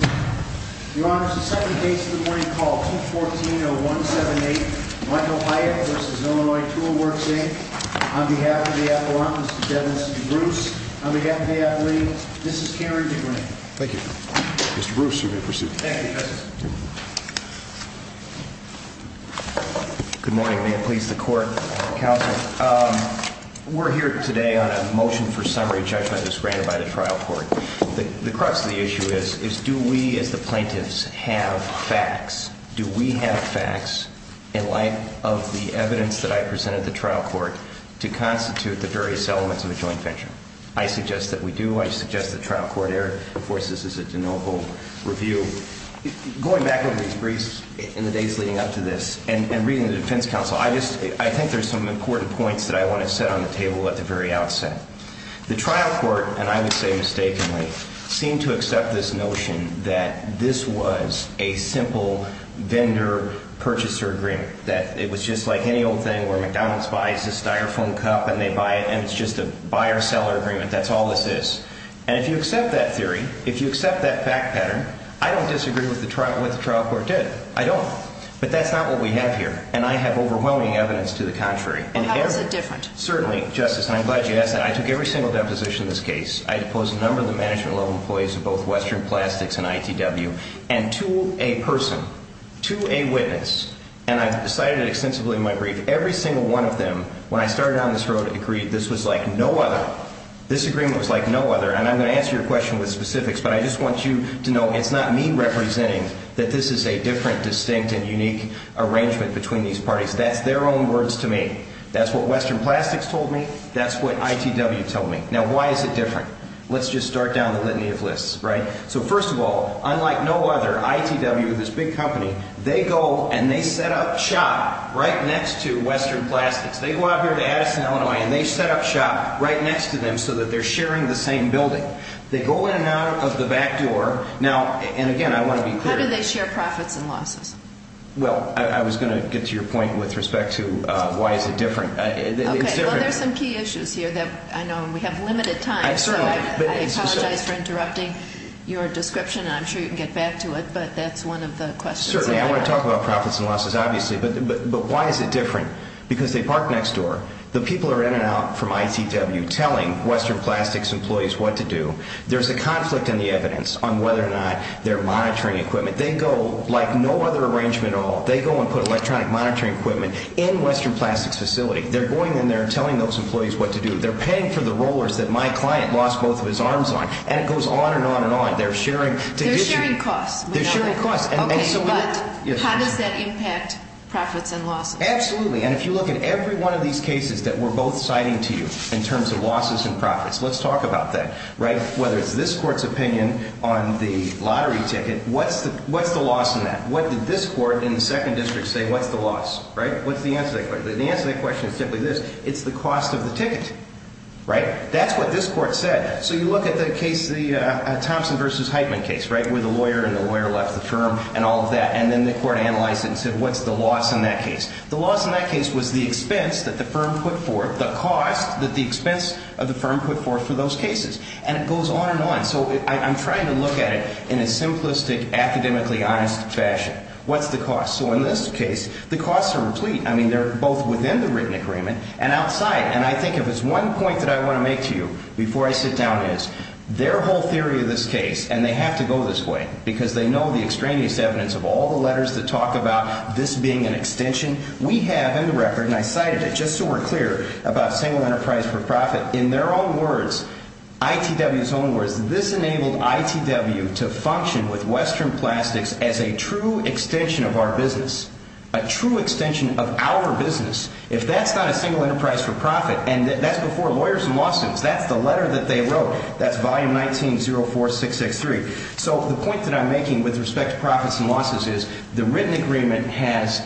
Your Honor, it's the second case of the morning called 214-0178, Wendell Hyatt v. Illinois Tool Works, Inc. On behalf of the appellant, Mr. Kevin DeBruce, on behalf of the athlete, Mrs. Karen DeGranate. Thank you. Mr. Bruce, you may proceed. Thank you, Justice. Good morning. May it please the Court, Counsel. We're here today on a motion for summary judgment as granted by the trial court. The crux of the issue is, do we as the plaintiffs have facts? Do we have facts in light of the evidence that I presented at the trial court to constitute the various elements of a joint venture? I suggest that we do. I suggest the trial court here enforces this as a de novo review. Going back over these briefs in the days leading up to this, and reading the defense counsel, I think there's some important points that I want to set on the table at the very outset. The trial court, and I would say mistakenly, seemed to accept this notion that this was a simple vendor-purchaser agreement. That it was just like any old thing where McDonald's buys this styrofoam cup and they buy it and it's just a buyer-seller agreement. That's all this is. And if you accept that theory, if you accept that fact pattern, I don't disagree with what the trial court did. I don't. But that's not what we have here. And I have overwhelming evidence to the contrary. How is it different? Certainly, Justice, and I'm glad you asked that. I took every single deposition in this case. I deposed a number of the management level employees of both Western Plastics and ITW. And to a person, to a witness, and I cited it extensively in my brief, every single one of them, when I started on this road, agreed this was like no other. This agreement was like no other. And I'm going to answer your question with specifics, but I just want you to know it's not me representing that this is a different, distinct, and unique arrangement between these parties. That's their own words to me. That's what Western Plastics told me. That's what ITW told me. Now, why is it different? Let's just start down the litany of lists, right? So, first of all, unlike no other, ITW, this big company, they go and they set up shop right next to Western Plastics. They go out here to Addison, Illinois, and they set up shop right next to them so that they're sharing the same building. They go in and out of the back door. Now, and again, I want to be clear. How do they share profits and losses? Well, I was going to get to your point with respect to why is it different. Okay, well, there's some key issues here that I know we have limited time. I apologize for interrupting your description, and I'm sure you can get back to it, but that's one of the questions. Certainly, I want to talk about profits and losses, obviously. But why is it different? Because they park next door. The people are in and out from ITW telling Western Plastics employees what to do. There's a conflict in the evidence on whether or not they're monitoring equipment. They go, like no other arrangement at all, they go and put electronic monitoring equipment in Western Plastics' facility. They're going in there and telling those employees what to do. They're paying for the rollers that my client lost both of his arms on, and it goes on and on and on. They're sharing costs. Okay, but how does that impact profits and losses? Absolutely, and if you look at every one of these cases that we're both citing to you in terms of losses and profits, let's talk about that. Whether it's this court's opinion on the lottery ticket, what's the loss in that? What did this court in the second district say what's the loss? What's the answer to that question? The answer to that question is simply this, it's the cost of the ticket. That's what this court said. So you look at the case, the Thompson v. Heitman case, where the lawyer and the lawyer left the firm and all of that, and then the court analyzed it and said what's the loss in that case? The loss in that case was the expense that the firm put forth, the cost that the expense of the firm put forth for those cases. And it goes on and on. So I'm trying to look at it in a simplistic, academically honest fashion. What's the cost? So in this case, the costs are complete. I mean, they're both within the written agreement and outside. And I think if there's one point that I want to make to you before I sit down is their whole theory of this case, and they have to go this way because they know the extraneous evidence of all the letters that talk about this being an extension. We have in the record, and I cited it just so we're clear about single enterprise for profit, in their own words, ITW's own words, this enabled ITW to function with Western Plastics as a true extension of our business, a true extension of our business. If that's not a single enterprise for profit, and that's before lawyers and lawsuits, that's the letter that they wrote, that's volume 19-04663. So the point that I'm making with respect to profits and losses is the written agreement has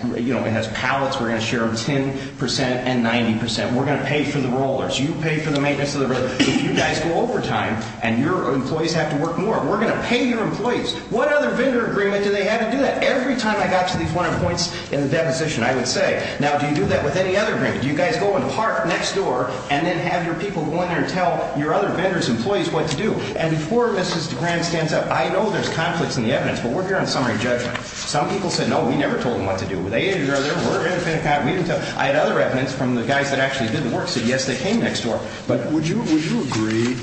pallets. We're going to share 10% and 90%. We're going to pay for the rollers. You pay for the maintenance of the rollers. If you guys go overtime and your employees have to work more, we're going to pay your employees. What other vendor agreement do they have to do that? Every time I got to these 100 points in the deposition, I would say, now, do you do that with any other agreement? Do you guys go and park next door and then have your people go in there and tell your other vendors, employees what to do? And before Mrs. DeGrande stands up, I know there's conflicts in the evidence, but we're here on summary judgment. Some people said, no, we never told them what to do. They interviewed her. We're going to pay the company. We didn't tell them. I had other evidence from the guys that actually did the work, said, yes, they came next door. Would you agree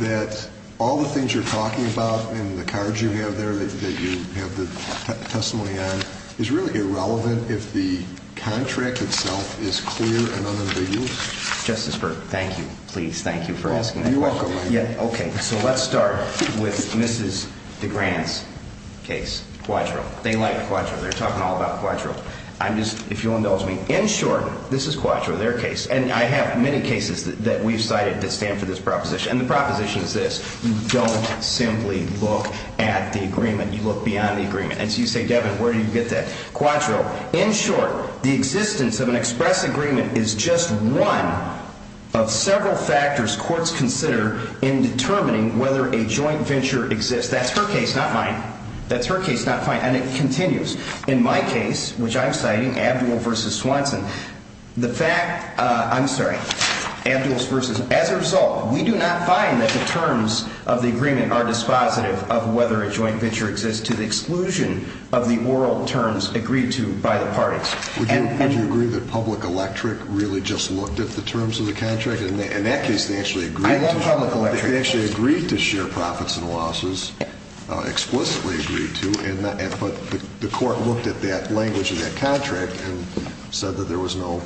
that all the things you're talking about in the cards you have there that you have the testimony on is really irrelevant if the contract itself is clear and unambiguous? Justice Berg, thank you. Please, thank you for asking that question. You're welcome. Okay. So let's start with Mrs. DeGrande's case, Quadro. They like Quadro. They're talking all about Quadro. If you'll indulge me, in short, this is Quadro, their case, and I have many cases that we've cited that stand for this proposition, and the proposition is this. You don't simply look at the agreement. You look beyond the agreement. And so you say, Devin, where do you get that? Quadro, in short, the existence of an express agreement is just one of several factors courts consider in determining whether a joint venture exists. That's her case, not mine. That's her case, not mine, and it continues. In my case, which I'm citing, Abdul versus Swanson, the fact, I'm sorry, Abdul's versus, as a result, we do not find that the terms of the agreement are dispositive of whether a joint venture exists to the exclusion of the oral terms agreed to by the parties. Would you agree that Public Electric really just looked at the terms of the contract? In that case, they actually agreed to share profits and losses, explicitly agreed to, but the court looked at that language in that contract and said that there was no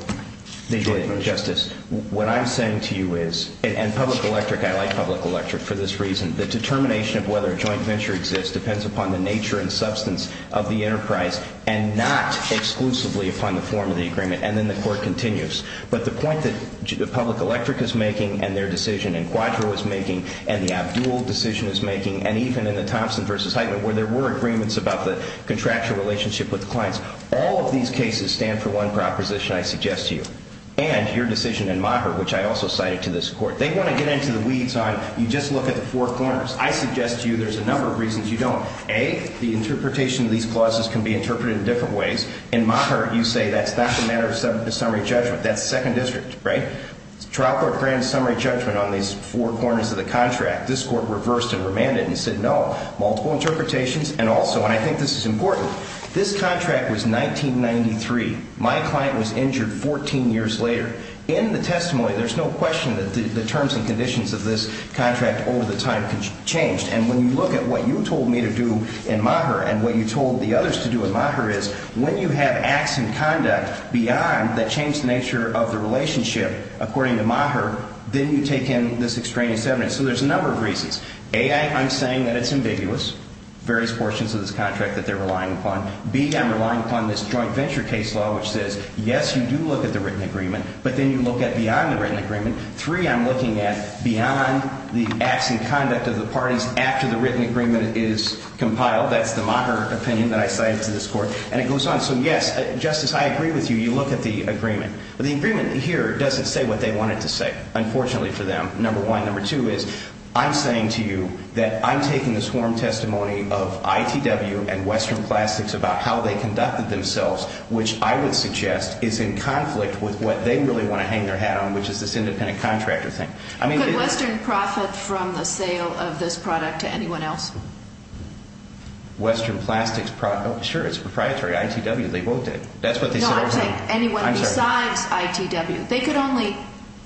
joint venture. Justice, what I'm saying to you is, and Public Electric, I like Public Electric for this reason, the determination of whether a joint venture exists depends upon the nature and substance of the enterprise and not exclusively upon the form of the agreement, and then the court continues. But the point that Public Electric is making and their decision and Quadro is making and the Abdul decision is making and even in the Thompson versus Heitman where there were agreements about the contractual relationship with the clients, all of these cases stand for one proposition, I suggest to you, and your decision in Maher, which I also cited to this court. They want to get into the weeds on you just look at the four corners. I suggest to you there's a number of reasons you don't. A, the interpretation of these clauses can be interpreted in different ways. In Maher, you say that's not the matter of summary judgment. That's Second District, right? Well, there's not a grand summary judgment on these four corners of the contract. This court reversed and remanded and said no. Multiple interpretations and also, and I think this is important, this contract was 1993. My client was injured 14 years later. In the testimony, there's no question that the terms and conditions of this contract over the time changed. And when you look at what you told me to do in Maher and what you told the others to do in Maher is, when you have acts in conduct beyond that change the nature of the relationship according to Maher, then you take in this extraneous evidence. So there's a number of reasons. A, I'm saying that it's ambiguous, various portions of this contract that they're relying upon. B, I'm relying upon this joint venture case law which says, yes, you do look at the written agreement, but then you look at beyond the written agreement. Three, I'm looking at beyond the acts and conduct of the parties after the written agreement is compiled. That's the Maher opinion that I cited to this court. And it goes on. So, yes, Justice, I agree with you. You look at the agreement. But the agreement here doesn't say what they want it to say, unfortunately, for them, number one. Number two is I'm saying to you that I'm taking this warm testimony of ITW and Western Classics about how they conducted themselves, which I would suggest is in conflict with what they really want to hang their hat on, which is this independent contractor thing. Could Western profit from the sale of this product to anyone else? Western Plastics? Sure, it's proprietary. ITW, they bought it. That's what they said. No, I'm saying anyone besides ITW. They could only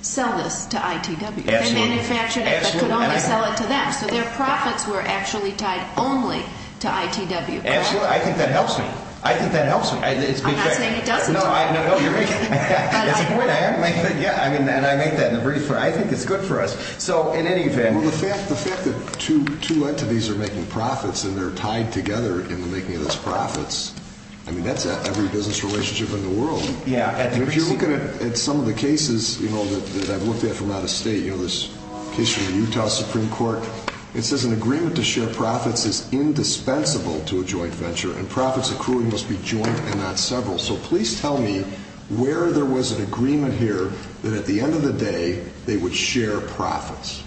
sell this to ITW. They manufactured it, but could only sell it to them. So their profits were actually tied only to ITW, correct? Absolutely. I think that helps me. I think that helps me. I'm not saying it doesn't. No, you're right. Yeah, and I make that in the brief. I think it's good for us. So, in any event. Well, the fact that two entities are making profits and they're tied together in the making of those profits, I mean, that's every business relationship in the world. Yeah. If you're looking at some of the cases, you know, that I've looked at from out of state, you know, this case from the Utah Supreme Court, it says an agreement to share profits is indispensable to a joint venture, and profits accruing must be joint and not several. So please tell me where there was an agreement here that at the end of the day they would share profits.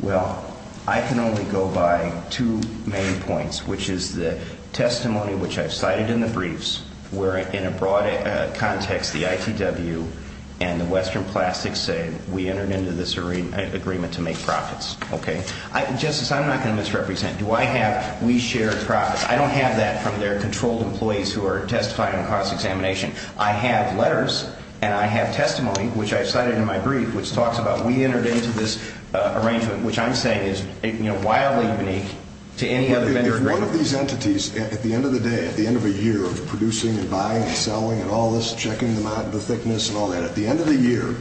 Well, I can only go by two main points, which is the testimony, which I've cited in the briefs, where in a broad context the ITW and the Western Plastics say we entered into this agreement to make profits, okay? Justice, I'm not going to misrepresent. Do I have we share profits? I don't have that from their controlled employees who are testifying on cross-examination. I have letters and I have testimony, which I've cited in my brief, which talks about we entered into this arrangement, which I'm saying is wildly unique to any other vendor agreement. If one of these entities at the end of the day, at the end of a year of producing and buying and selling and all this, checking the thickness and all that, at the end of the year,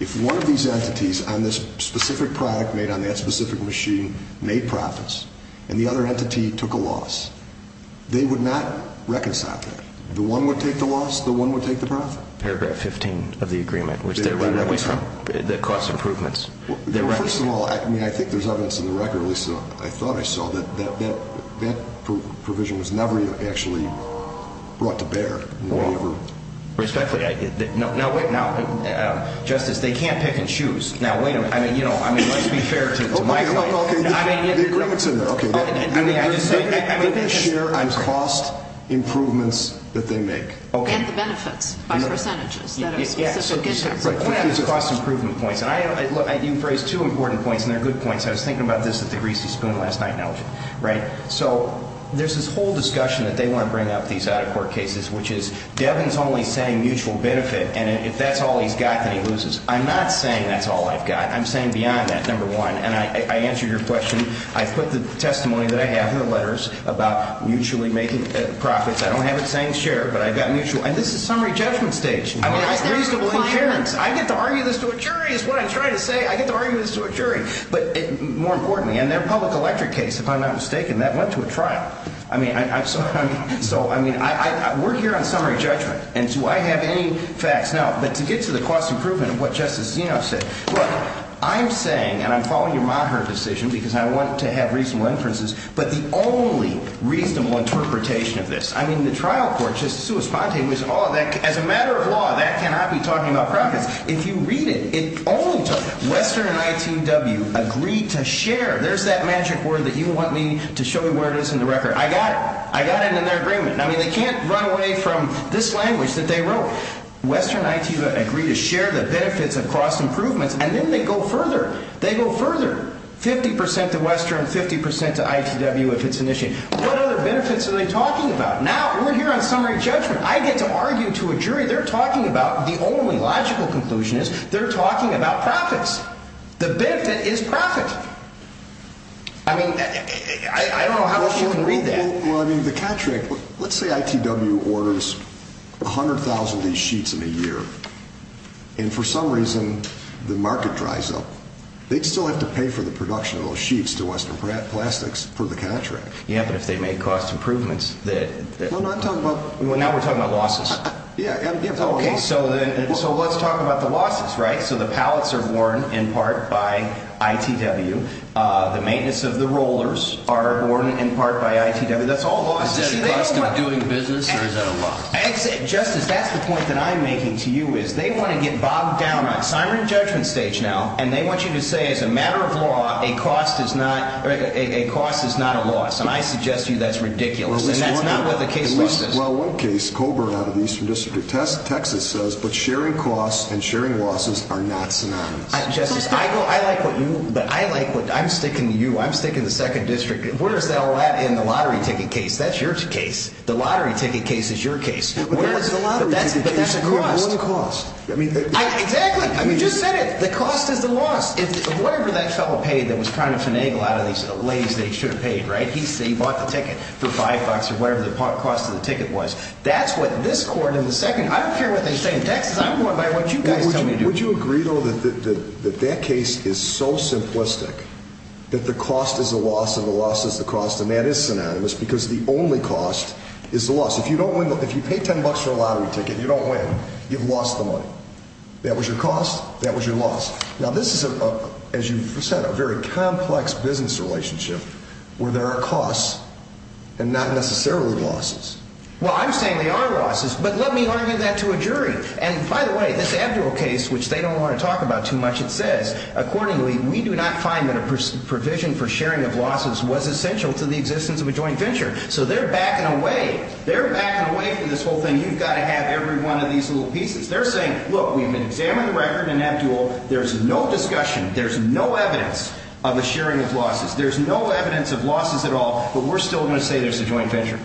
if one of these entities on this specific product made on that specific machine made profits and the other entity took a loss, they would not reconcile that. The one would take the loss, the one would take the profit. Paragraph 15 of the agreement, which they're running away from, that costs improvements. First of all, I mean, I think there's evidence in the record, at least I thought I saw, that that provision was never actually brought to bear. Well, respectfully, no, wait, now, Justice, they can't pick and choose. Now, wait a minute, I mean, you know, let's be fair to my client. Okay, the agreement's in there. Okay. I mean, share in cost improvements that they make. And the benefits by percentages that are specific to them. Right. Cost improvement points. You've raised two important points, and they're good points. I was thinking about this at the Greasy Spoon last night. Right? So there's this whole discussion that they want to bring up, these out-of-court cases, which is Devin's only saying mutual benefit, and if that's all he's got, then he loses. I'm not saying that's all I've got. I'm saying beyond that, number one. And I answered your question. I put the testimony that I have in the letters about mutually making profits. I don't have it saying share, but I've got mutual. And this is summary judgment stage. I want reasonable insurance. I get to argue this to a jury is what I'm trying to say. I get to argue this to a jury. But more importantly, in their public electric case, if I'm not mistaken, that went to a trial. I mean, so, I mean, we're here on summary judgment. And do I have any facts? No. But to get to the cost improvement of what Justice Zeno said, look, I'm saying, and I'm following your Maher decision because I want to have reasonable inferences, but the only reasonable interpretation of this, I mean, the trial court, Justice Sousa-Sponte, as a matter of law, that cannot be talking about profits. If you read it, it only talks about it. Western and ITW agreed to share. There's that magic word that you want me to show you where it is in the record. I got it. I got it in their agreement. I mean, they can't run away from this language that they wrote. Western and ITW agreed to share the benefits of cost improvements, and then they go further. They go further. 50% to Western, 50% to ITW if it's an issue. What other benefits are they talking about? Now, we're here on summary judgment. I get to argue to a jury they're talking about. The only logical conclusion is they're talking about profits. The benefit is profit. I mean, I don't know how else you can read that. Well, I mean, the contract. Let's say ITW orders 100,000 of these sheets in a year, and for some reason the market dries up. They'd still have to pay for the production of those sheets to Western Plastics for the contract. Yeah, but if they make cost improvements. No, no, I'm talking about. Well, now we're talking about losses. Yeah. Okay, so let's talk about the losses, right? So the pallets are worn in part by ITW. The maintenance of the rollers are worn in part by ITW. That's all losses. Is that a cost of doing business, or is that a loss? Justice, that's the point that I'm making to you, is they want to get bogged down. I'm on summary judgment stage now, and they want you to say as a matter of law, a cost is not a loss. And I suggest to you that's ridiculous, and that's not what the case law says. Well, one case, Colburn out of Eastern District, Texas, says, but sharing costs and sharing losses are not synonymous. Justice, I like what you, but I like what, I'm sticking to you. I'm sticking to Second District. Where is that in the lottery ticket case? That's your case. The lottery ticket case is your case. Where is the lottery ticket case? But that's a cost. But what is the cost? Exactly. You just said it. The cost is the loss. Whatever that fellow paid that was trying to finagle out of these ladies they should have paid, right? He bought the ticket for five bucks or whatever the cost of the ticket was. That's what this court in the Second, I don't care what they say in Texas. I'm going by what you guys tell me to do. Would you agree, though, that that case is so simplistic that the cost is the loss and the loss is the cost, and that is synonymous because the only cost is the loss. If you pay ten bucks for a lottery ticket and you don't win, you've lost the money. That was your cost. That was your loss. Now, this is, as you said, a very complex business relationship where there are costs and not necessarily losses. Well, I'm saying there are losses, but let me argue that to a jury. And, by the way, this Abdul case, which they don't want to talk about too much, it says, accordingly, we do not find that a provision for sharing of losses was essential to the existence of a joint venture. So they're backing away. They're backing away from this whole thing. You've got to have every one of these little pieces. They're saying, look, we've been examining the record in Abdul. There's no discussion. There's no evidence of a sharing of losses. There's no evidence of losses at all, but we're still going to say there's a joint venture.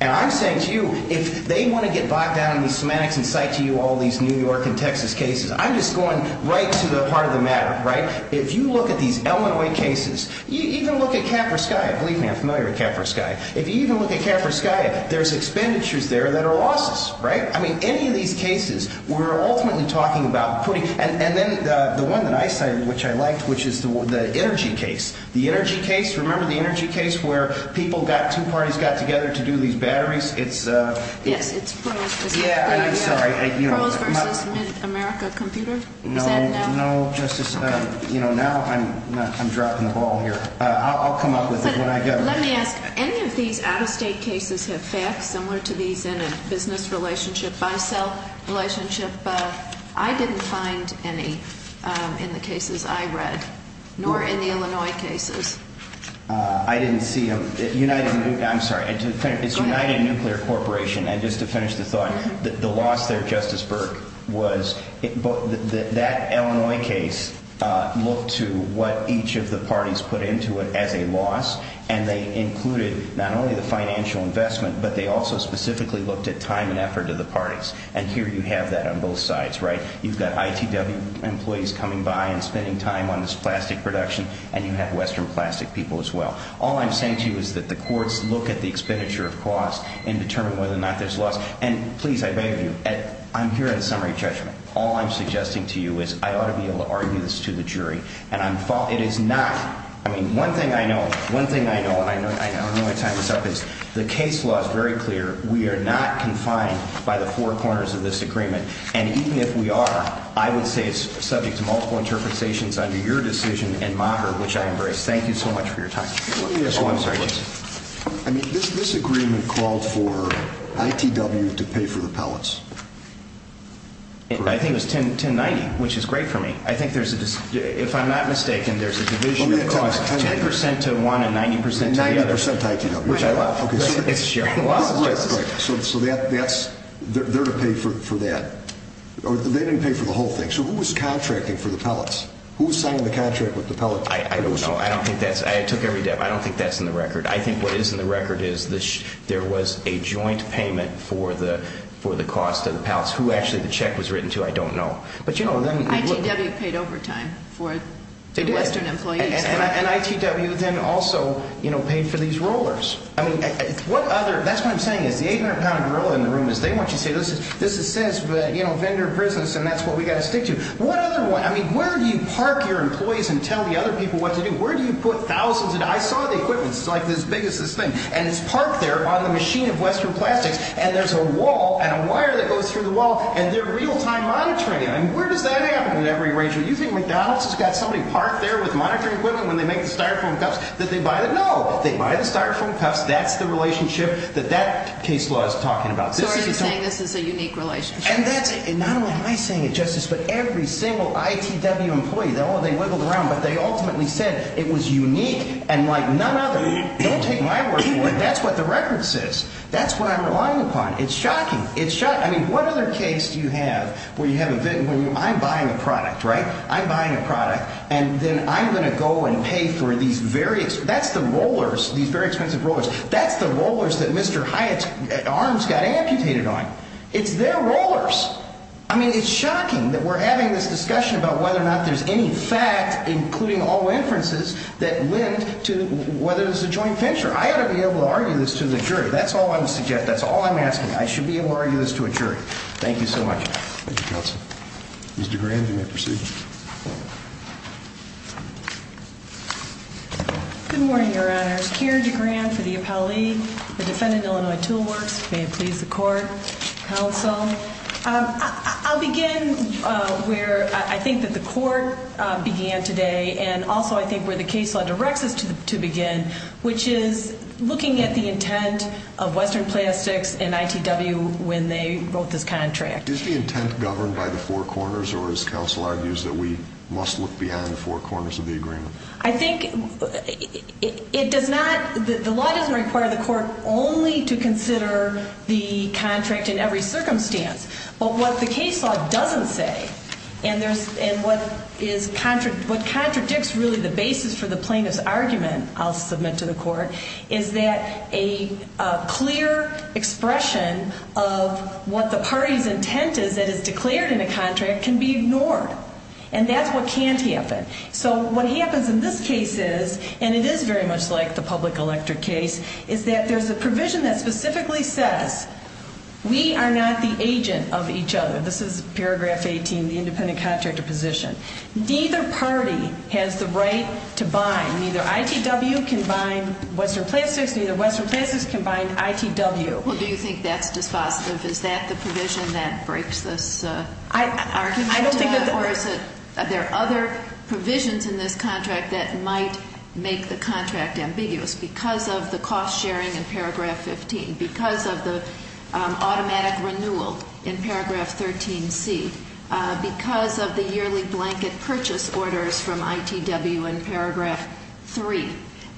And I'm saying to you, if they want to get bogged down in these semantics and cite to you all these New York and Texas cases, I'm just going right to the heart of the matter, right? If you look at these Illinois cases, you even look at Capra Sky, believe me, I'm familiar with Capra Sky. If you even look at Capra Sky, there's expenditures there that are losses, right? I mean, any of these cases, we're ultimately talking about putting – and then the one that I cited, which I liked, which is the energy case. Remember the energy case where people got – two parties got together to do these batteries? It's – Yes, it's pros. Yeah, I'm sorry. Pros versus mid-America computer? No, no, Justice. You know, now I'm dropping the ball here. I'll come up with it when I get it. Let me ask. Any of these out-of-state cases have facts similar to these in a business relationship, buy-sell relationship? I didn't find any in the cases I read, nor in the Illinois cases. I didn't see them. United – I'm sorry. Go ahead. It's United Nuclear Corporation. And just to finish the thought, the loss there, Justice Burke, was – that Illinois case looked to what each of the parties put into it as a loss, and they included not only the financial investment, but they also specifically looked at time and effort of the parties. And here you have that on both sides, right? You've got ITW employees coming by and spending time on this plastic production, and you have Western plastic people as well. All I'm saying to you is that the courts look at the expenditure of costs and determine whether or not there's loss. And please, I beg of you, I'm here at a summary judgment. All I'm suggesting to you is I ought to be able to argue this to the jury, and I'm – it is not – I mean, one thing I know, one thing I know, and I don't know how to time this up, is the case law is very clear. We are not confined by the four corners of this agreement. And even if we are, I would say it's subject to multiple interpretations under your decision and mine, which I embrace. Thank you so much for your time. Let me ask you one question. Oh, I'm sorry, Justice. I mean, this agreement called for ITW to pay for the pellets. I think it was 1090, which is great for me. I think there's a – if I'm not mistaken, there's a division of costs. 10% to one and 90% to the other. 90% to ITW, which I love. Which I love. It's a sharing of losses, Justice. So that's – they're to pay for that. Or they didn't pay for the whole thing. So who was contracting for the pellets? Who was signing the contract with the pellet producers? I don't know. I don't think that's – I took every – I don't think that's in the record. I think what is in the record is there was a joint payment for the cost of the pellets. Who actually the check was written to, I don't know. But, you know, then – ITW paid overtime for the Western employees. And ITW then also, you know, paid for these rollers. I mean, what other – that's what I'm saying is the 800-pound gorilla in the room is they want you to say this is – this is sales, but, you know, vendor business, and that's what we've got to stick to. What other – I mean, where do you park your employees and tell the other people what to do? Where do you put thousands of – I saw the equipment. It's like as big as this thing. And it's parked there on the machine of Western Plastics. And there's a wall and a wire that goes through the wall, and they're real-time monitoring it. I mean, where does that happen with every arrangement? Do you think McDonald's has got somebody parked there with monitoring equipment when they make the Styrofoam cups that they buy the – no. They buy the Styrofoam cups. That's the relationship that that case law is talking about. So are you saying this is a unique relationship? And that's – and not only am I saying it, Justice, but every single ITW employee. They wiggled around, but they ultimately said it was unique and like none other. Don't take my word for it. That's what the record says. That's what I'm relying upon. It's shocking. It's – I mean, what other case do you have where you have a – when I'm buying a product, right, I'm buying a product, and then I'm going to go and pay for these very – that's the rollers, these very expensive rollers. That's the rollers that Mr. Hyatt's arms got amputated on. It's their rollers. I mean, it's shocking that we're having this discussion about whether or not there's any fact, including all inferences, that led to whether it was a joint venture. I ought to be able to argue this to the jury. That's all I'm suggesting. That's all I'm asking. I should be able to argue this to a jury. Thank you so much. Thank you, Counsel. Ms. DeGran, you may proceed. Good morning, Your Honors. Keira DeGran for the Appellee, the defendant, Illinois Tool Works. May it please the Court, Counsel. I'll begin where I think that the Court began today and also I think where the case law directs us to begin, which is looking at the intent of Western Plastics and ITW when they wrote this contract. Is the intent governed by the four corners, or is Counsel argues that we must look beyond the four corners of the agreement? I think it does not, the law doesn't require the Court only to consider the contract in every circumstance. But what the case law doesn't say, and what contradicts really the basis for the plaintiff's argument, I'll submit to the Court, is that a clear expression of what the party's intent is that is declared in a contract can be ignored. And that's what can't happen. So what happens in this case is, and it is very much like the public electric case, is that there's a provision that specifically says we are not the agent of each other. This is paragraph 18, the independent contractor position. Neither party has the right to bind. Neither ITW can bind Western Plastics, neither Western Plastics can bind ITW. Well, do you think that's dispositive? Is that the provision that breaks this argument? I don't think that the- Or is it, are there other provisions in this contract that might make the contract ambiguous? Because of the cost sharing in paragraph 15, because of the automatic renewal in paragraph 13C, because of the yearly blanket purchase orders from ITW in paragraph 3,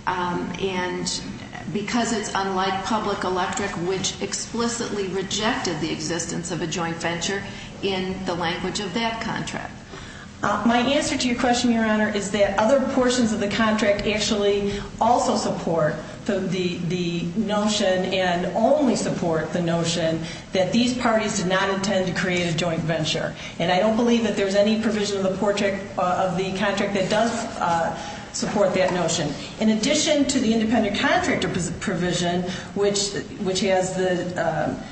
and because it's unlike public electric, which explicitly rejected the existence of a joint venture in the language of that contract. My answer to your question, Your Honor, is that other portions of the contract actually also support the notion and only support the notion that these parties did not intend to create a joint venture. And I don't believe that there's any provision of the contract that does support that notion. In addition to the independent contractor provision, which has the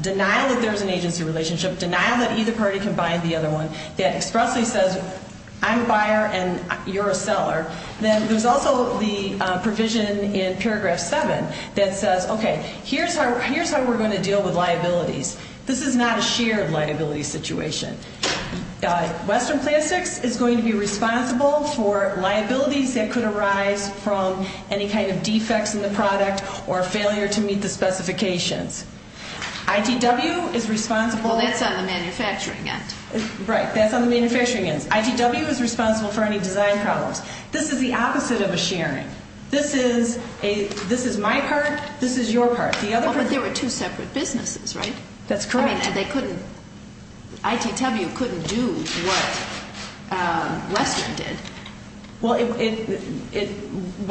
denial that there's an agency relationship, denial that either party can bind the other one, that expressly says I'm a buyer and you're a seller, then there's also the provision in paragraph 7 that says, okay, here's how we're going to deal with liabilities. This is not a shared liability situation. Western Plastics is going to be responsible for liabilities that could arise from any kind of defects in the product or failure to meet the specifications. ITW is responsible- Well, that's on the manufacturing end. Right, that's on the manufacturing end. ITW is responsible for any design problems. This is the opposite of a sharing. This is my part. This is your part. But there were two separate businesses, right? That's correct. I mean, they couldn't-ITW couldn't do what Western did. Well,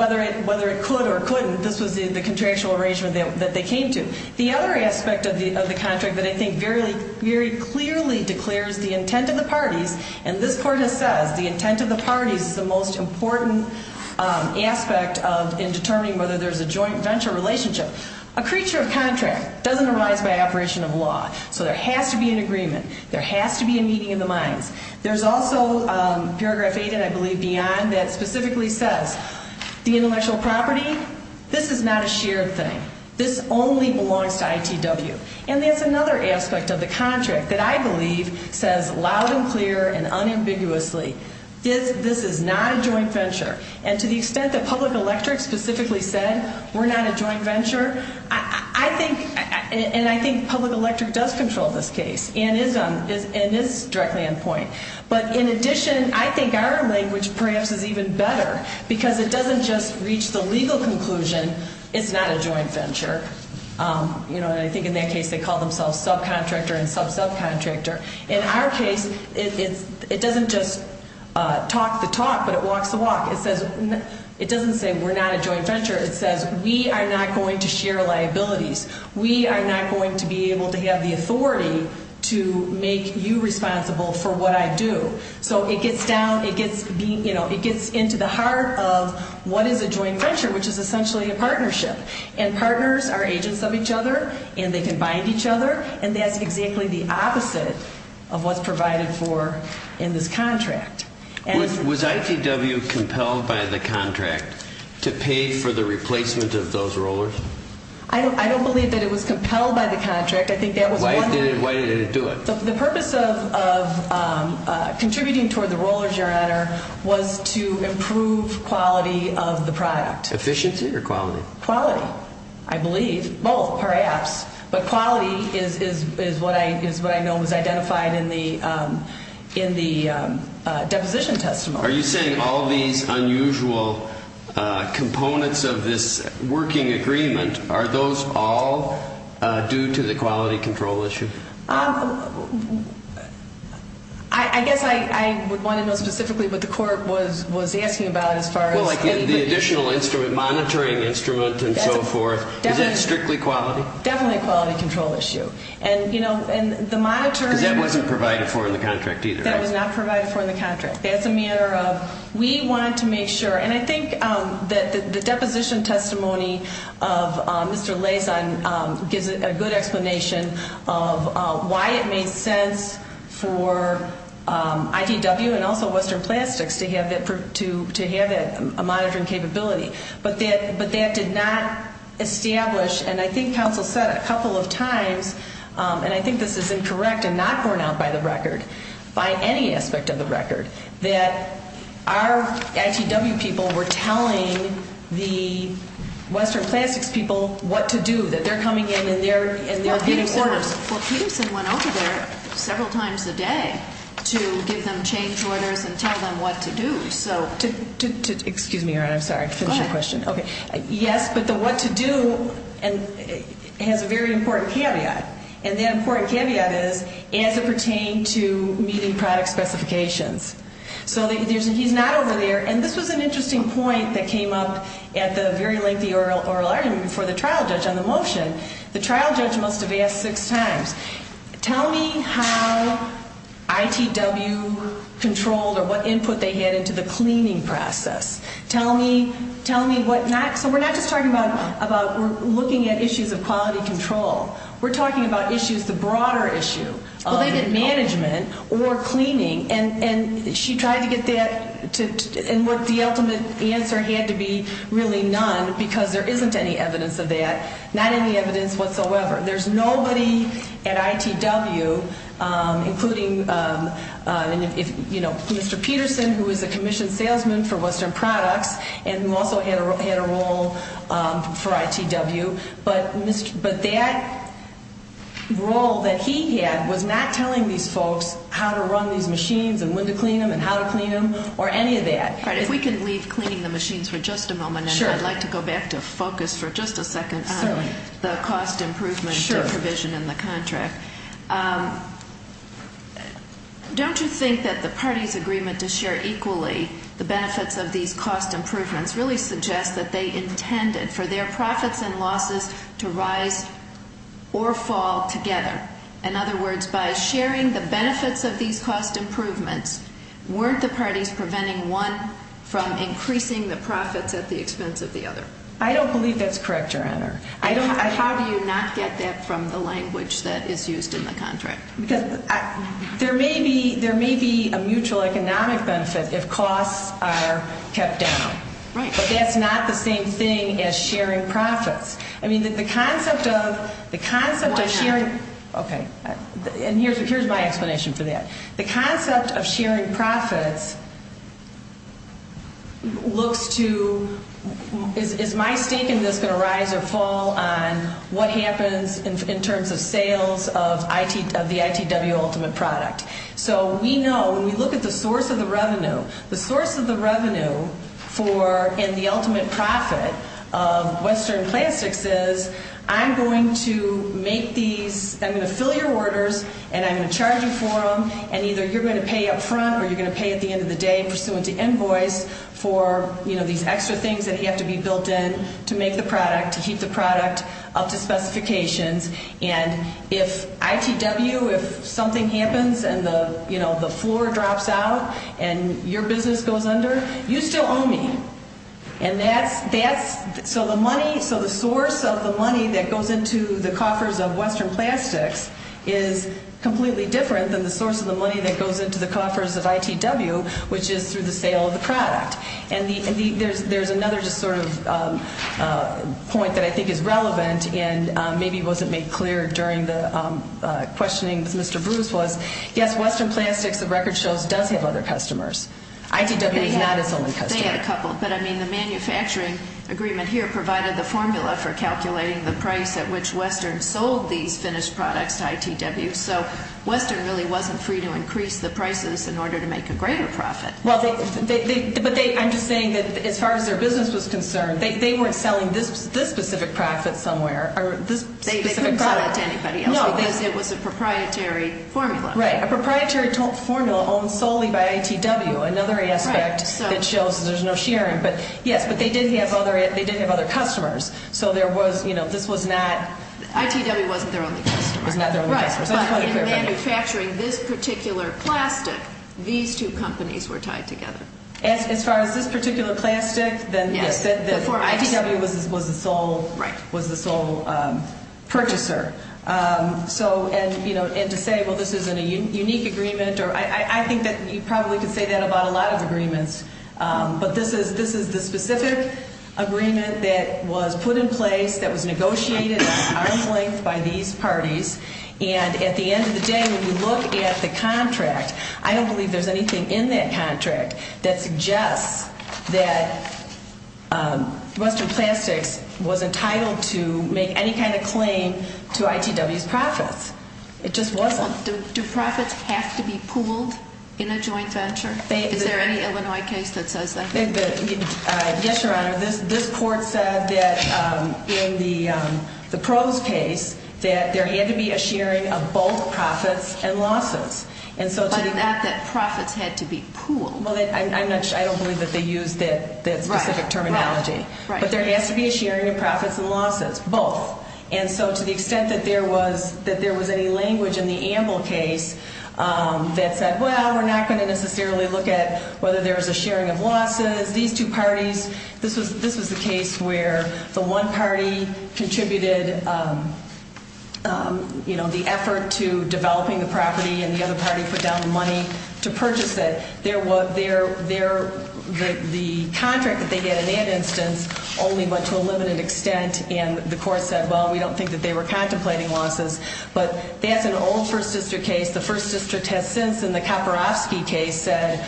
whether it could or couldn't, this was the contractual arrangement that they came to. The other aspect of the contract that I think very clearly declares the intent of the parties, and this Court has said the intent of the parties is the most important aspect in determining whether there's a joint venture relationship. A creature of contract doesn't arise by operation of law. So there has to be an agreement. There has to be a meeting of the minds. There's also paragraph 8, and I believe beyond, that specifically says the intellectual property, this is not a shared thing. This only belongs to ITW. And there's another aspect of the contract that I believe says loud and clear and unambiguously, this is not a joint venture. And to the extent that Public Electric specifically said we're not a joint venture, I think, and I think Public Electric does control this case and is directly on point. But in addition, I think our language perhaps is even better because it doesn't just reach the legal conclusion it's not a joint venture. I think in that case they call themselves subcontractor and sub-subcontractor. In our case, it doesn't just talk the talk, but it walks the walk. It doesn't say we're not a joint venture. It says we are not going to share liabilities. We are not going to be able to have the authority to make you responsible for what I do. So it gets down, it gets into the heart of what is a joint venture, which is essentially a partnership. And partners are agents of each other, and they can bind each other, and that's exactly the opposite of what's provided for in this contract. Was ITW compelled by the contract to pay for the replacement of those rollers? I don't believe that it was compelled by the contract. Why did it do it? The purpose of contributing toward the roller generator was to improve quality of the product. Efficiency or quality? Quality, I believe. Both, perhaps. But quality is what I know was identified in the deposition testimony. Are you saying all these unusual components of this working agreement, are those all due to the quality control issue? I guess I would want to know specifically what the court was asking about as far as anybody. The additional instrument, monitoring instrument and so forth, is that strictly quality? Definitely a quality control issue. Because that wasn't provided for in the contract either, right? That was not provided for in the contract. That's a matter of we want to make sure, and I think that the deposition testimony of Mr. Lazon gives a good explanation of why it made sense for ITW and also Western Plastics to have that monitoring capability. But that did not establish, and I think counsel said a couple of times, and I think this is incorrect and not borne out by the record, by any aspect of the record, that our ITW people were telling the Western Plastics people what to do, that they're coming in and they're getting orders. Well, Peterson went over there several times a day to give them change orders and tell them what to do. Excuse me, Your Honor, I'm sorry. Go ahead. Yes, but the what to do has a very important caveat, and that important caveat is as it pertained to meeting product specifications. So he's not over there. And this was an interesting point that came up at the very lengthy oral argument before the trial judge on the motion. The trial judge must have asked six times, tell me how ITW controlled or what input they had into the cleaning process. Tell me what not. So we're not just talking about looking at issues of quality control. We're talking about issues, the broader issue of management or cleaning. And she tried to get that and what the ultimate answer had to be really none because there isn't any evidence of that, not any evidence whatsoever. There's nobody at ITW, including, you know, Mr. Peterson, who is a commissioned salesman for Western Products and also had a role for ITW. But that role that he had was not telling these folks how to run these machines and when to clean them and how to clean them or any of that. All right, if we can leave cleaning the machines for just a moment. Sure. And I'd like to go back to focus for just a second on the cost improvement provision in the contract. Sure. Don't you think that the parties' agreement to share equally the benefits of these cost improvements really suggests that they intended for their profits and losses to rise or fall together? In other words, by sharing the benefits of these cost improvements, weren't the parties preventing one from increasing the profits at the expense of the other? I don't believe that's correct, Your Honor. How do you not get that from the language that is used in the contract? Because there may be a mutual economic benefit if costs are kept down. Right. But that's not the same thing as sharing profits. I mean, the concept of sharing – Why not? Okay. And here's my explanation for that. The concept of sharing profits looks to – Is my stake in this going to rise or fall on what happens in terms of sales of the ITW ultimate product? So we know, when we look at the source of the revenue, the source of the revenue and the ultimate profit of Western Plastics is I'm going to make these – I'm going to fill your orders, and I'm going to charge you for them, and either you're going to pay up front or you're going to pay at the end of the day in pursuant to invoice for these extra things that have to be built in to make the product, to keep the product up to specifications. And if ITW, if something happens and the floor drops out and your business goes under, you still owe me. And that's – so the money, so the source of the money that goes into the coffers of Western Plastics is completely different than the source of the money that goes into the coffers of ITW, which is through the sale of the product. And there's another just sort of point that I think is relevant and maybe wasn't made clear during the questioning with Mr. Bruce was, yes, Western Plastics of record shows does have other customers. ITW is not its only customer. They had a couple, but I mean the manufacturing agreement here provided the formula for calculating the price at which Western sold these finished products to ITW. So Western really wasn't free to increase the prices in order to make a greater profit. Well, but they – I'm just saying that as far as their business was concerned, they weren't selling this specific product somewhere. They couldn't sell it to anybody else because it was a proprietary formula. Right, a proprietary formula owned solely by ITW, another aspect that shows there's no sharing. But yes, but they did have other customers. So there was – this was not – ITW wasn't their only customer. Right, but in manufacturing this particular plastic, these two companies were tied together. As far as this particular plastic, then yes, ITW was the sole purchaser. And to say, well, this isn't a unique agreement, I think that you probably could say that about a lot of agreements. But this is the specific agreement that was put in place, that was negotiated at arm's length by these parties. And at the end of the day, when you look at the contract, I don't believe there's anything in that contract that suggests that Western Plastics was entitled to make any kind of claim to ITW's profits. It just wasn't. Do profits have to be pooled in a joint venture? Is there any Illinois case that says that? Yes, Your Honor. This court said that in the pros case that there had to be a sharing of both profits and losses. But not that profits had to be pooled. Well, I don't believe that they used that specific terminology. But there has to be a sharing of profits and losses, both. And so to the extent that there was any language in the Amble case that said, well, we're not going to necessarily look at whether there's a sharing of losses. These two parties, this was the case where the one party contributed the effort to developing the property and the other party put down the money to purchase it. The contract that they had in that instance only went to a limited extent, and the court said, well, we don't think that they were contemplating losses. But that's an old First District case. The First District has since, in the Koporowski case, said,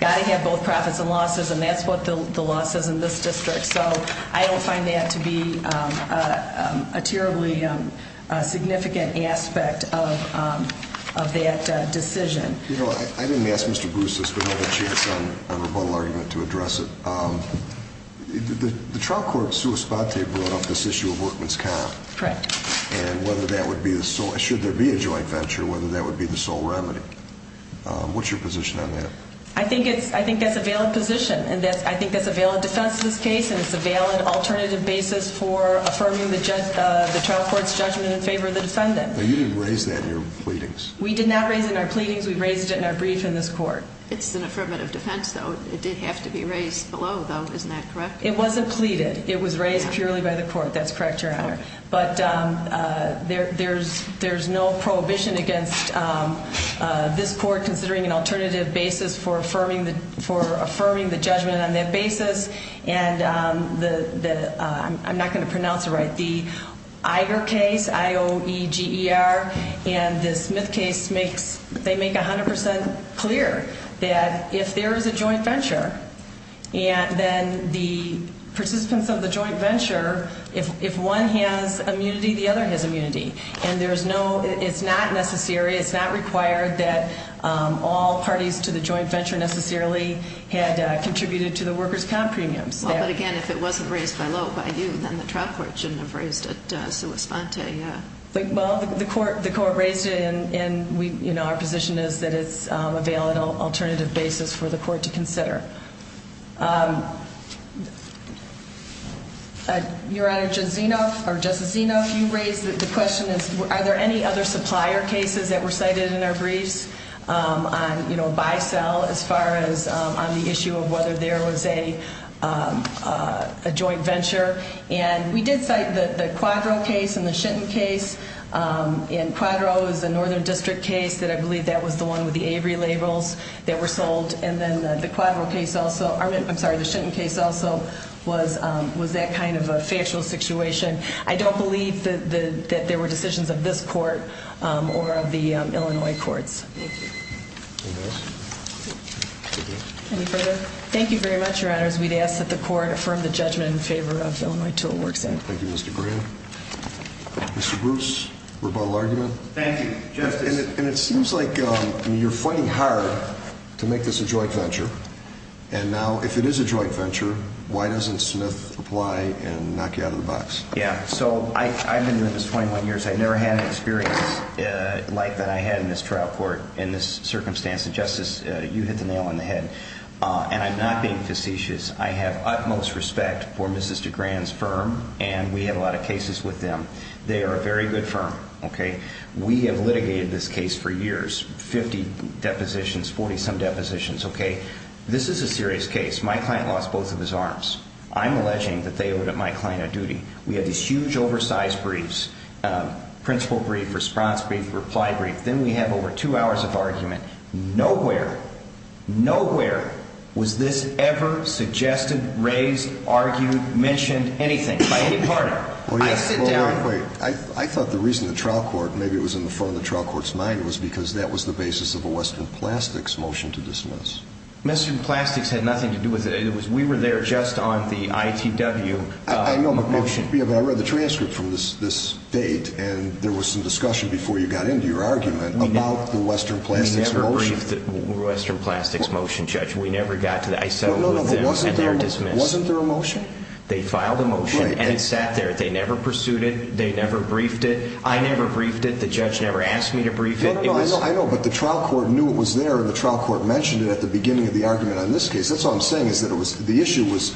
got to have both profits and losses, and that's what the law says in this district. So I don't find that to be a terribly significant aspect of that decision. You know, I didn't ask Mr. Bruce this, but I have a chance on rebuttal argument to address it. The trial court, sua spate, brought up this issue of workman's comp. Correct. And whether that would be the sole, should there be a joint venture, whether that would be the sole remedy. What's your position on that? I think that's a valid position, and I think that's a valid defense in this case, and it's a valid alternative basis for affirming the trial court's judgment in favor of the defendant. You didn't raise that in your pleadings. We did not raise it in our pleadings. We raised it in our brief in this court. It's an affirmative defense, though. It did have to be raised below, though. Isn't that correct? It wasn't pleaded. It was raised purely by the court. That's correct, Your Honor. But there's no prohibition against this court considering an alternative basis for affirming the judgment on that basis. And I'm not going to pronounce it right. The Eiger case, I-O-E-G-E-R, and the Smith case, they make 100% clear that if there is a joint venture, and then the participants of the joint venture, if one has immunity, the other has immunity. And it's not necessary, it's not required that all parties to the joint venture necessarily had contributed to the workers' comp premiums. Well, but again, if it wasn't raised below by you, then the trial court shouldn't have raised it sui sponte. Well, the court raised it, and our position is that it's a valid alternative basis for the court to consider. Your Honor, Justice Zinoff, you raised the question, are there any other supplier cases that were cited in our briefs on buy-sell, as far as on the issue of whether there was a joint venture? And we did cite the Quadro case and the Shenton case, and Quadro is a Northern District case, that I believe that was the one with the Avery labels that were sold, and then the Quadro case also, I'm sorry, the Shenton case also was that kind of a factual situation. I don't believe that there were decisions of this court or of the Illinois courts. Thank you. Any further? Thank you very much, Your Honors. We'd ask that the court affirm the judgment in favor of Illinois Tool Works Act. Thank you, Mr. Graham. Mr. Bruce, rebuttal argument? Thank you, Justice. And it seems like you're fighting hard to make this a joint venture, and now, if it is a joint venture, why doesn't Smith apply and knock you out of the box? Yeah, so I've been doing this 21 years. I've never had an experience like that I had in this trial court in this circumstance. And, Justice, you hit the nail on the head, and I'm not being facetious. I have utmost respect for Mrs. DeGran's firm, and we had a lot of cases with them. They are a very good firm, okay? We have litigated this case for years, 50 depositions, 40-some depositions, okay? This is a serious case. My client lost both of his arms. I'm alleging that they owed my client a duty. We had these huge oversized briefs, principal brief, response brief, reply brief. Then we have over two hours of argument. Nowhere, nowhere was this ever suggested, raised, argued, mentioned, anything by any party. I sit down. Well, wait, wait. I thought the reason the trial court, maybe it was in the front of the trial court's mind, was because that was the basis of a Western Plastics motion to dismiss. Western Plastics had nothing to do with it. We were there just on the ITW motion. I know, but I read the transcript from this date, and there was some discussion before you got into your argument about the Western Plastics motion. We never briefed the Western Plastics motion, Judge. We never got to that. I settled with them, and they're dismissed. Wasn't there a motion? They filed a motion, and it sat there. They never pursued it. They never briefed it. I never briefed it. The judge never asked me to brief it. I know, but the trial court knew it was there, and the trial court mentioned it at the beginning of the argument on this case. That's all I'm saying is that the issue was—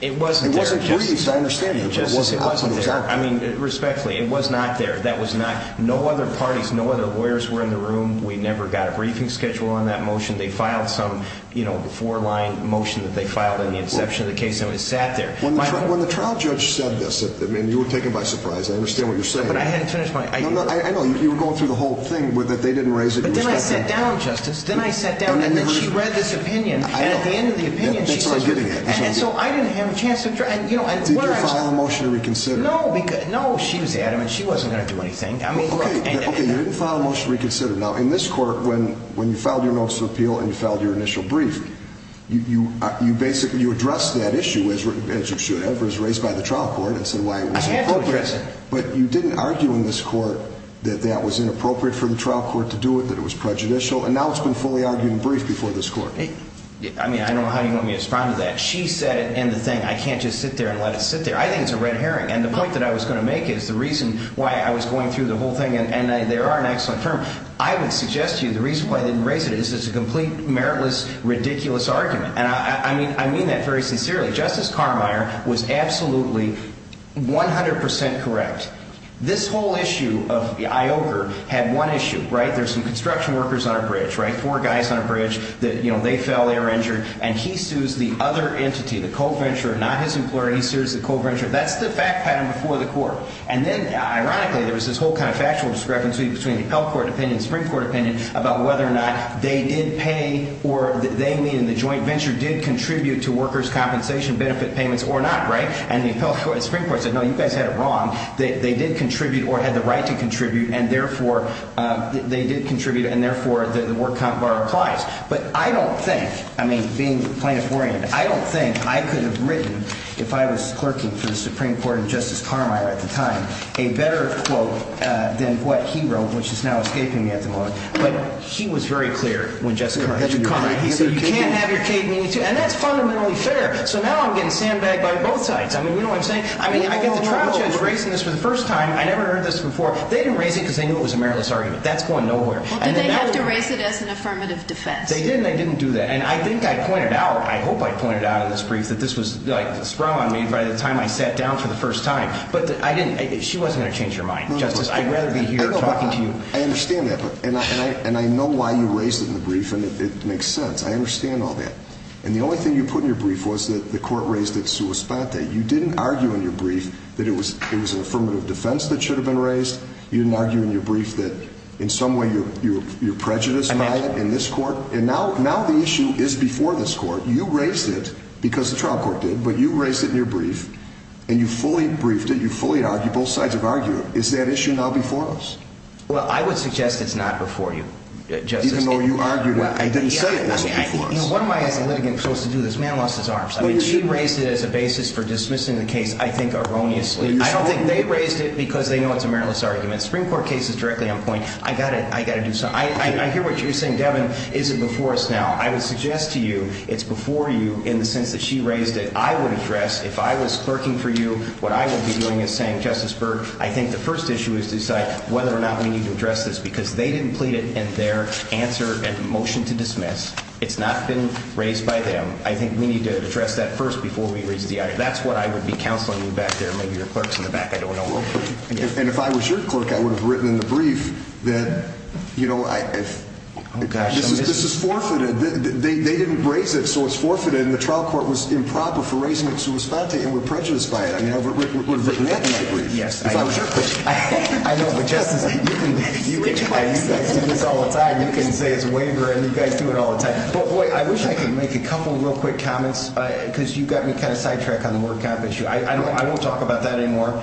It wasn't there, Justice. It wasn't briefed, I understand you, but it wasn't there. I mean, respectfully, it was not there. That was not—no other parties, no other lawyers were in the room. We never got a briefing schedule on that motion. They filed some, you know, before-line motion that they filed in the inception of the case, and it sat there. When the trial judge said this, I mean, you were taken by surprise. I understand what you're saying. But I hadn't finished my argument. I know. You were going through the whole thing, but they didn't raise it. But then I sat down, Justice. Then I sat down, and then she read this opinion. I know. That's what I'm getting at. And so I didn't have a chance to— Did you file a motion to reconsider? No. No, she was adamant. She wasn't going to do anything. Okay, you didn't file a motion to reconsider. Now, in this court, when you filed your motion of appeal and you filed your initial brief, you basically addressed that issue, as you should have, or as raised by the trial court, and said why it wasn't appropriate. I had to address it. But you didn't argue in this court that that was inappropriate for the trial court to do it, that it was prejudicial, and now it's been fully argued and briefed before this court. I mean, I don't know how you want me to respond to that. She said it in the thing. I can't just sit there and let it sit there. I think it's a red herring. And the point that I was going to make is the reason why I was going through the whole thing, and there are an excellent term. I would suggest to you the reason why they didn't raise it is it's a complete, meritless, ridiculous argument. And I mean that very sincerely. Justice Carmeier was absolutely 100 percent correct. This whole issue of IOKR had one issue, right? There's some construction workers on a bridge, right? There's four guys on a bridge. They fell. They were injured. And he sues the other entity, the co-venturer, not his employer. He sues the co-venturer. That's the fact pattern before the court. And then, ironically, there was this whole kind of factual discrepancy between the appellate court opinion and the Supreme Court opinion about whether or not they did pay or they, in the joint venture, did contribute to workers' compensation benefit payments or not, right? And the Supreme Court said, no, you guys had it wrong. They did contribute or had the right to contribute. And, therefore, they did contribute. And, therefore, the work count bar applies. But I don't think, I mean, being plaintiff-oriented, I don't think I could have written, if I was clerking for the Supreme Court and Justice Carmeier at the time, a better quote than what he wrote, which is now escaping me at the moment. But he was very clear when Justice Carmeier said, you can't have your cake and eat it. And that's fundamentally fair. So now I'm getting sandbagged by both sides. I mean, you know what I'm saying? I mean, I get the trial judge raising this for the first time. I never heard this before. They didn't raise it because they knew it was a meritless argument. That's going nowhere. Well, did they have to raise it as an affirmative defense? They didn't. They didn't do that. And I think I pointed out, I hope I pointed out in this brief, that this was, like, sprung on me by the time I sat down for the first time. But I didn't. She wasn't going to change her mind. Justice, I'd rather be here talking to you. I understand that. And I know why you raised it in the brief, and it makes sense. I understand all that. And the only thing you put in your brief was that the court raised it sua sponte. You didn't argue in your brief that it was an affirmative defense that should have been raised. You didn't argue in your brief that in some way you're prejudiced by it in this court. And now the issue is before this court. You raised it because the trial court did. But you raised it in your brief, and you fully briefed it. You fully argued. Both sides have argued it. Is that issue now before us? Well, I would suggest it's not before you, Justice. Even though you argued it. I didn't say it wasn't before us. What am I, as a litigant, supposed to do? This man lost his arms. She raised it as a basis for dismissing the case, I think, erroneously. I don't think they raised it because they know it's a meritless argument. The Supreme Court case is directly on point. I got to do something. I hear what you're saying, Devin. Is it before us now? I would suggest to you it's before you in the sense that she raised it. I would address, if I was clerking for you, what I would be doing is saying, Justice Berg, I think the first issue is to decide whether or not we need to address this because they didn't plead it in their answer and motion to dismiss. It's not been raised by them. I think we need to address that first before we raise the item. That's what I would be counseling you back there. Maybe your clerk is in the back. I don't know. And if I was your clerk, I would have written in the brief that, you know, this is forfeited. They didn't raise it, so it's forfeited, and the trial court was improper for raising it to respond to it and were prejudiced by it. I would have written that in the brief if I was your clerk. I know, but, Justice, you guys do this all the time. You can say it's a waiver, and you guys do it all the time. Well, boy, I wish I could make a couple real quick comments because you got me kind of sidetracked on the word compensation. I won't talk about that anymore.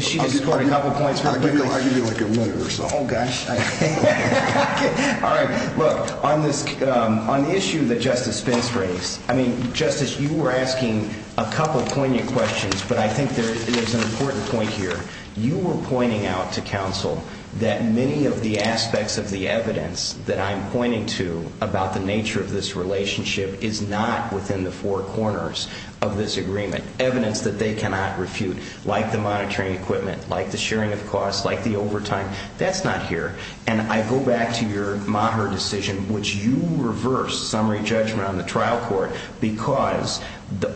She just scored a couple points real quick. I'll give you, like, a minute or so. Oh, gosh. All right. Look, on the issue that Justice Spence raised, I mean, Justice, you were asking a couple poignant questions, but I think there's an important point here. You were pointing out to counsel that many of the aspects of the evidence that I'm pointing to about the nature of this relationship is not within the four corners of this agreement. Evidence that they cannot refute, like the monitoring equipment, like the sharing of costs, like the overtime, that's not here. And I go back to your Maher decision, which you reversed summary judgment on the trial court because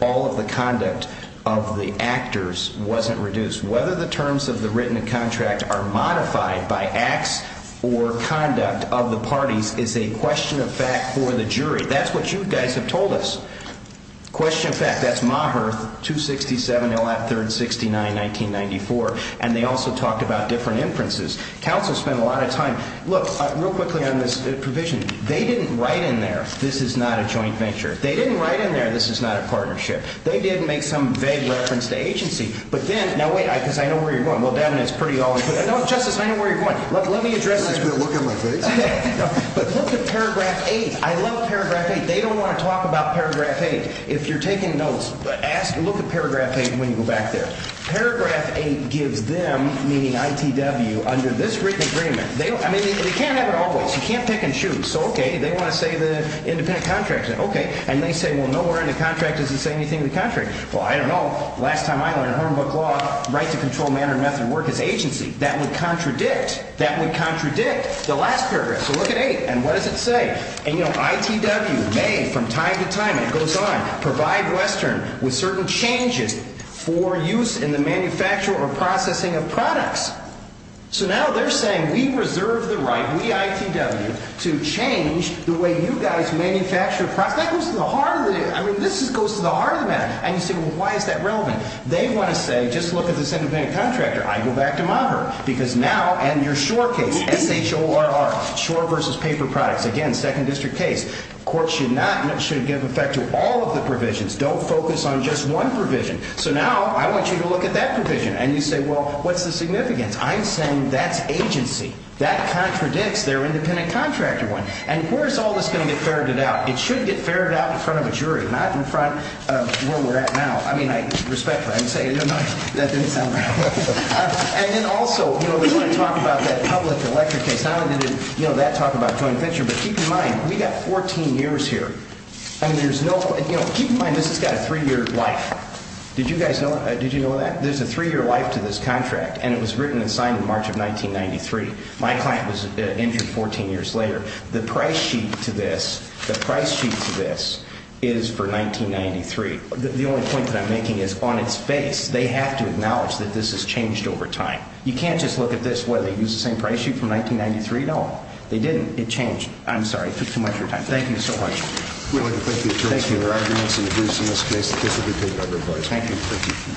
all of the conduct of the actors wasn't reduced. Whether the terms of the written contract are modified by acts or conduct of the parties is a question of fact for the jury. That's what you guys have told us. Question of fact. That's Maher 267. He'll have 369-1994. And they also talked about different inferences. Counsel spent a lot of time. Look, real quickly on this provision. They didn't write in there, this is not a joint venture. They didn't write in there, this is not a partnership. They didn't make some vague reference to agency. But then, now wait, because I know where you're going. Well, Devin, it's pretty obvious. No, Justice, I know where you're going. Let me address this. I'm just going to look at my face. But look at paragraph 8. I love paragraph 8. They don't want to talk about paragraph 8. If you're taking notes, look at paragraph 8 when you go back there. Paragraph 8 gives them, meaning ITW, under this written agreement, I mean, they can't have it always. You can't pick and choose. So, okay, they want to say the independent contract. Okay. And they say, well, nowhere in the contract does it say anything in the contract. Well, I don't know. Last time I went to Hornbook Law, right to control manner and method of work is agency. That would contradict the last paragraph. So look at 8, and what does it say? ITW may from time to time, and it goes on, provide Western with certain changes for use in the manufacture or processing of products. So now they're saying we reserve the right, we ITW, to change the way you guys manufacture products. Now, that goes to the heart of it. I mean, this goes to the heart of the matter. And you say, well, why is that relevant? They want to say, just look at this independent contractor. I go back to MAHER. Because now, and your SURE case, S-H-O-R-R, SURE versus paper products. Again, second district case. Court should not, should give effect to all of the provisions. Don't focus on just one provision. So now I want you to look at that provision. And you say, well, what's the significance? I'm saying that's agency. That contradicts their independent contractor one. And where is all this going to get ferreted out? It should get ferreted out in front of a jury, not in front of where we're at now. I mean, I respect that. I'm saying, no, no, that didn't sound right. And then also, you know, they want to talk about that public electric case. How did that talk about joint venture? But keep in mind, we've got 14 years here. And there's no, you know, keep in mind this has got a three-year life. Did you guys know that? There's a three-year life to this contract. And it was written and signed in March of 1993. My client was injured 14 years later. The price sheet to this, the price sheet to this is for 1993. The only point that I'm making is on its face, they have to acknowledge that this has changed over time. You can't just look at this and say, well, they used the same price sheet from 1993. No, they didn't. It changed. I'm sorry. I took too much of your time. Thank you so much. Thank you. Thank you. Thank you. Thank you.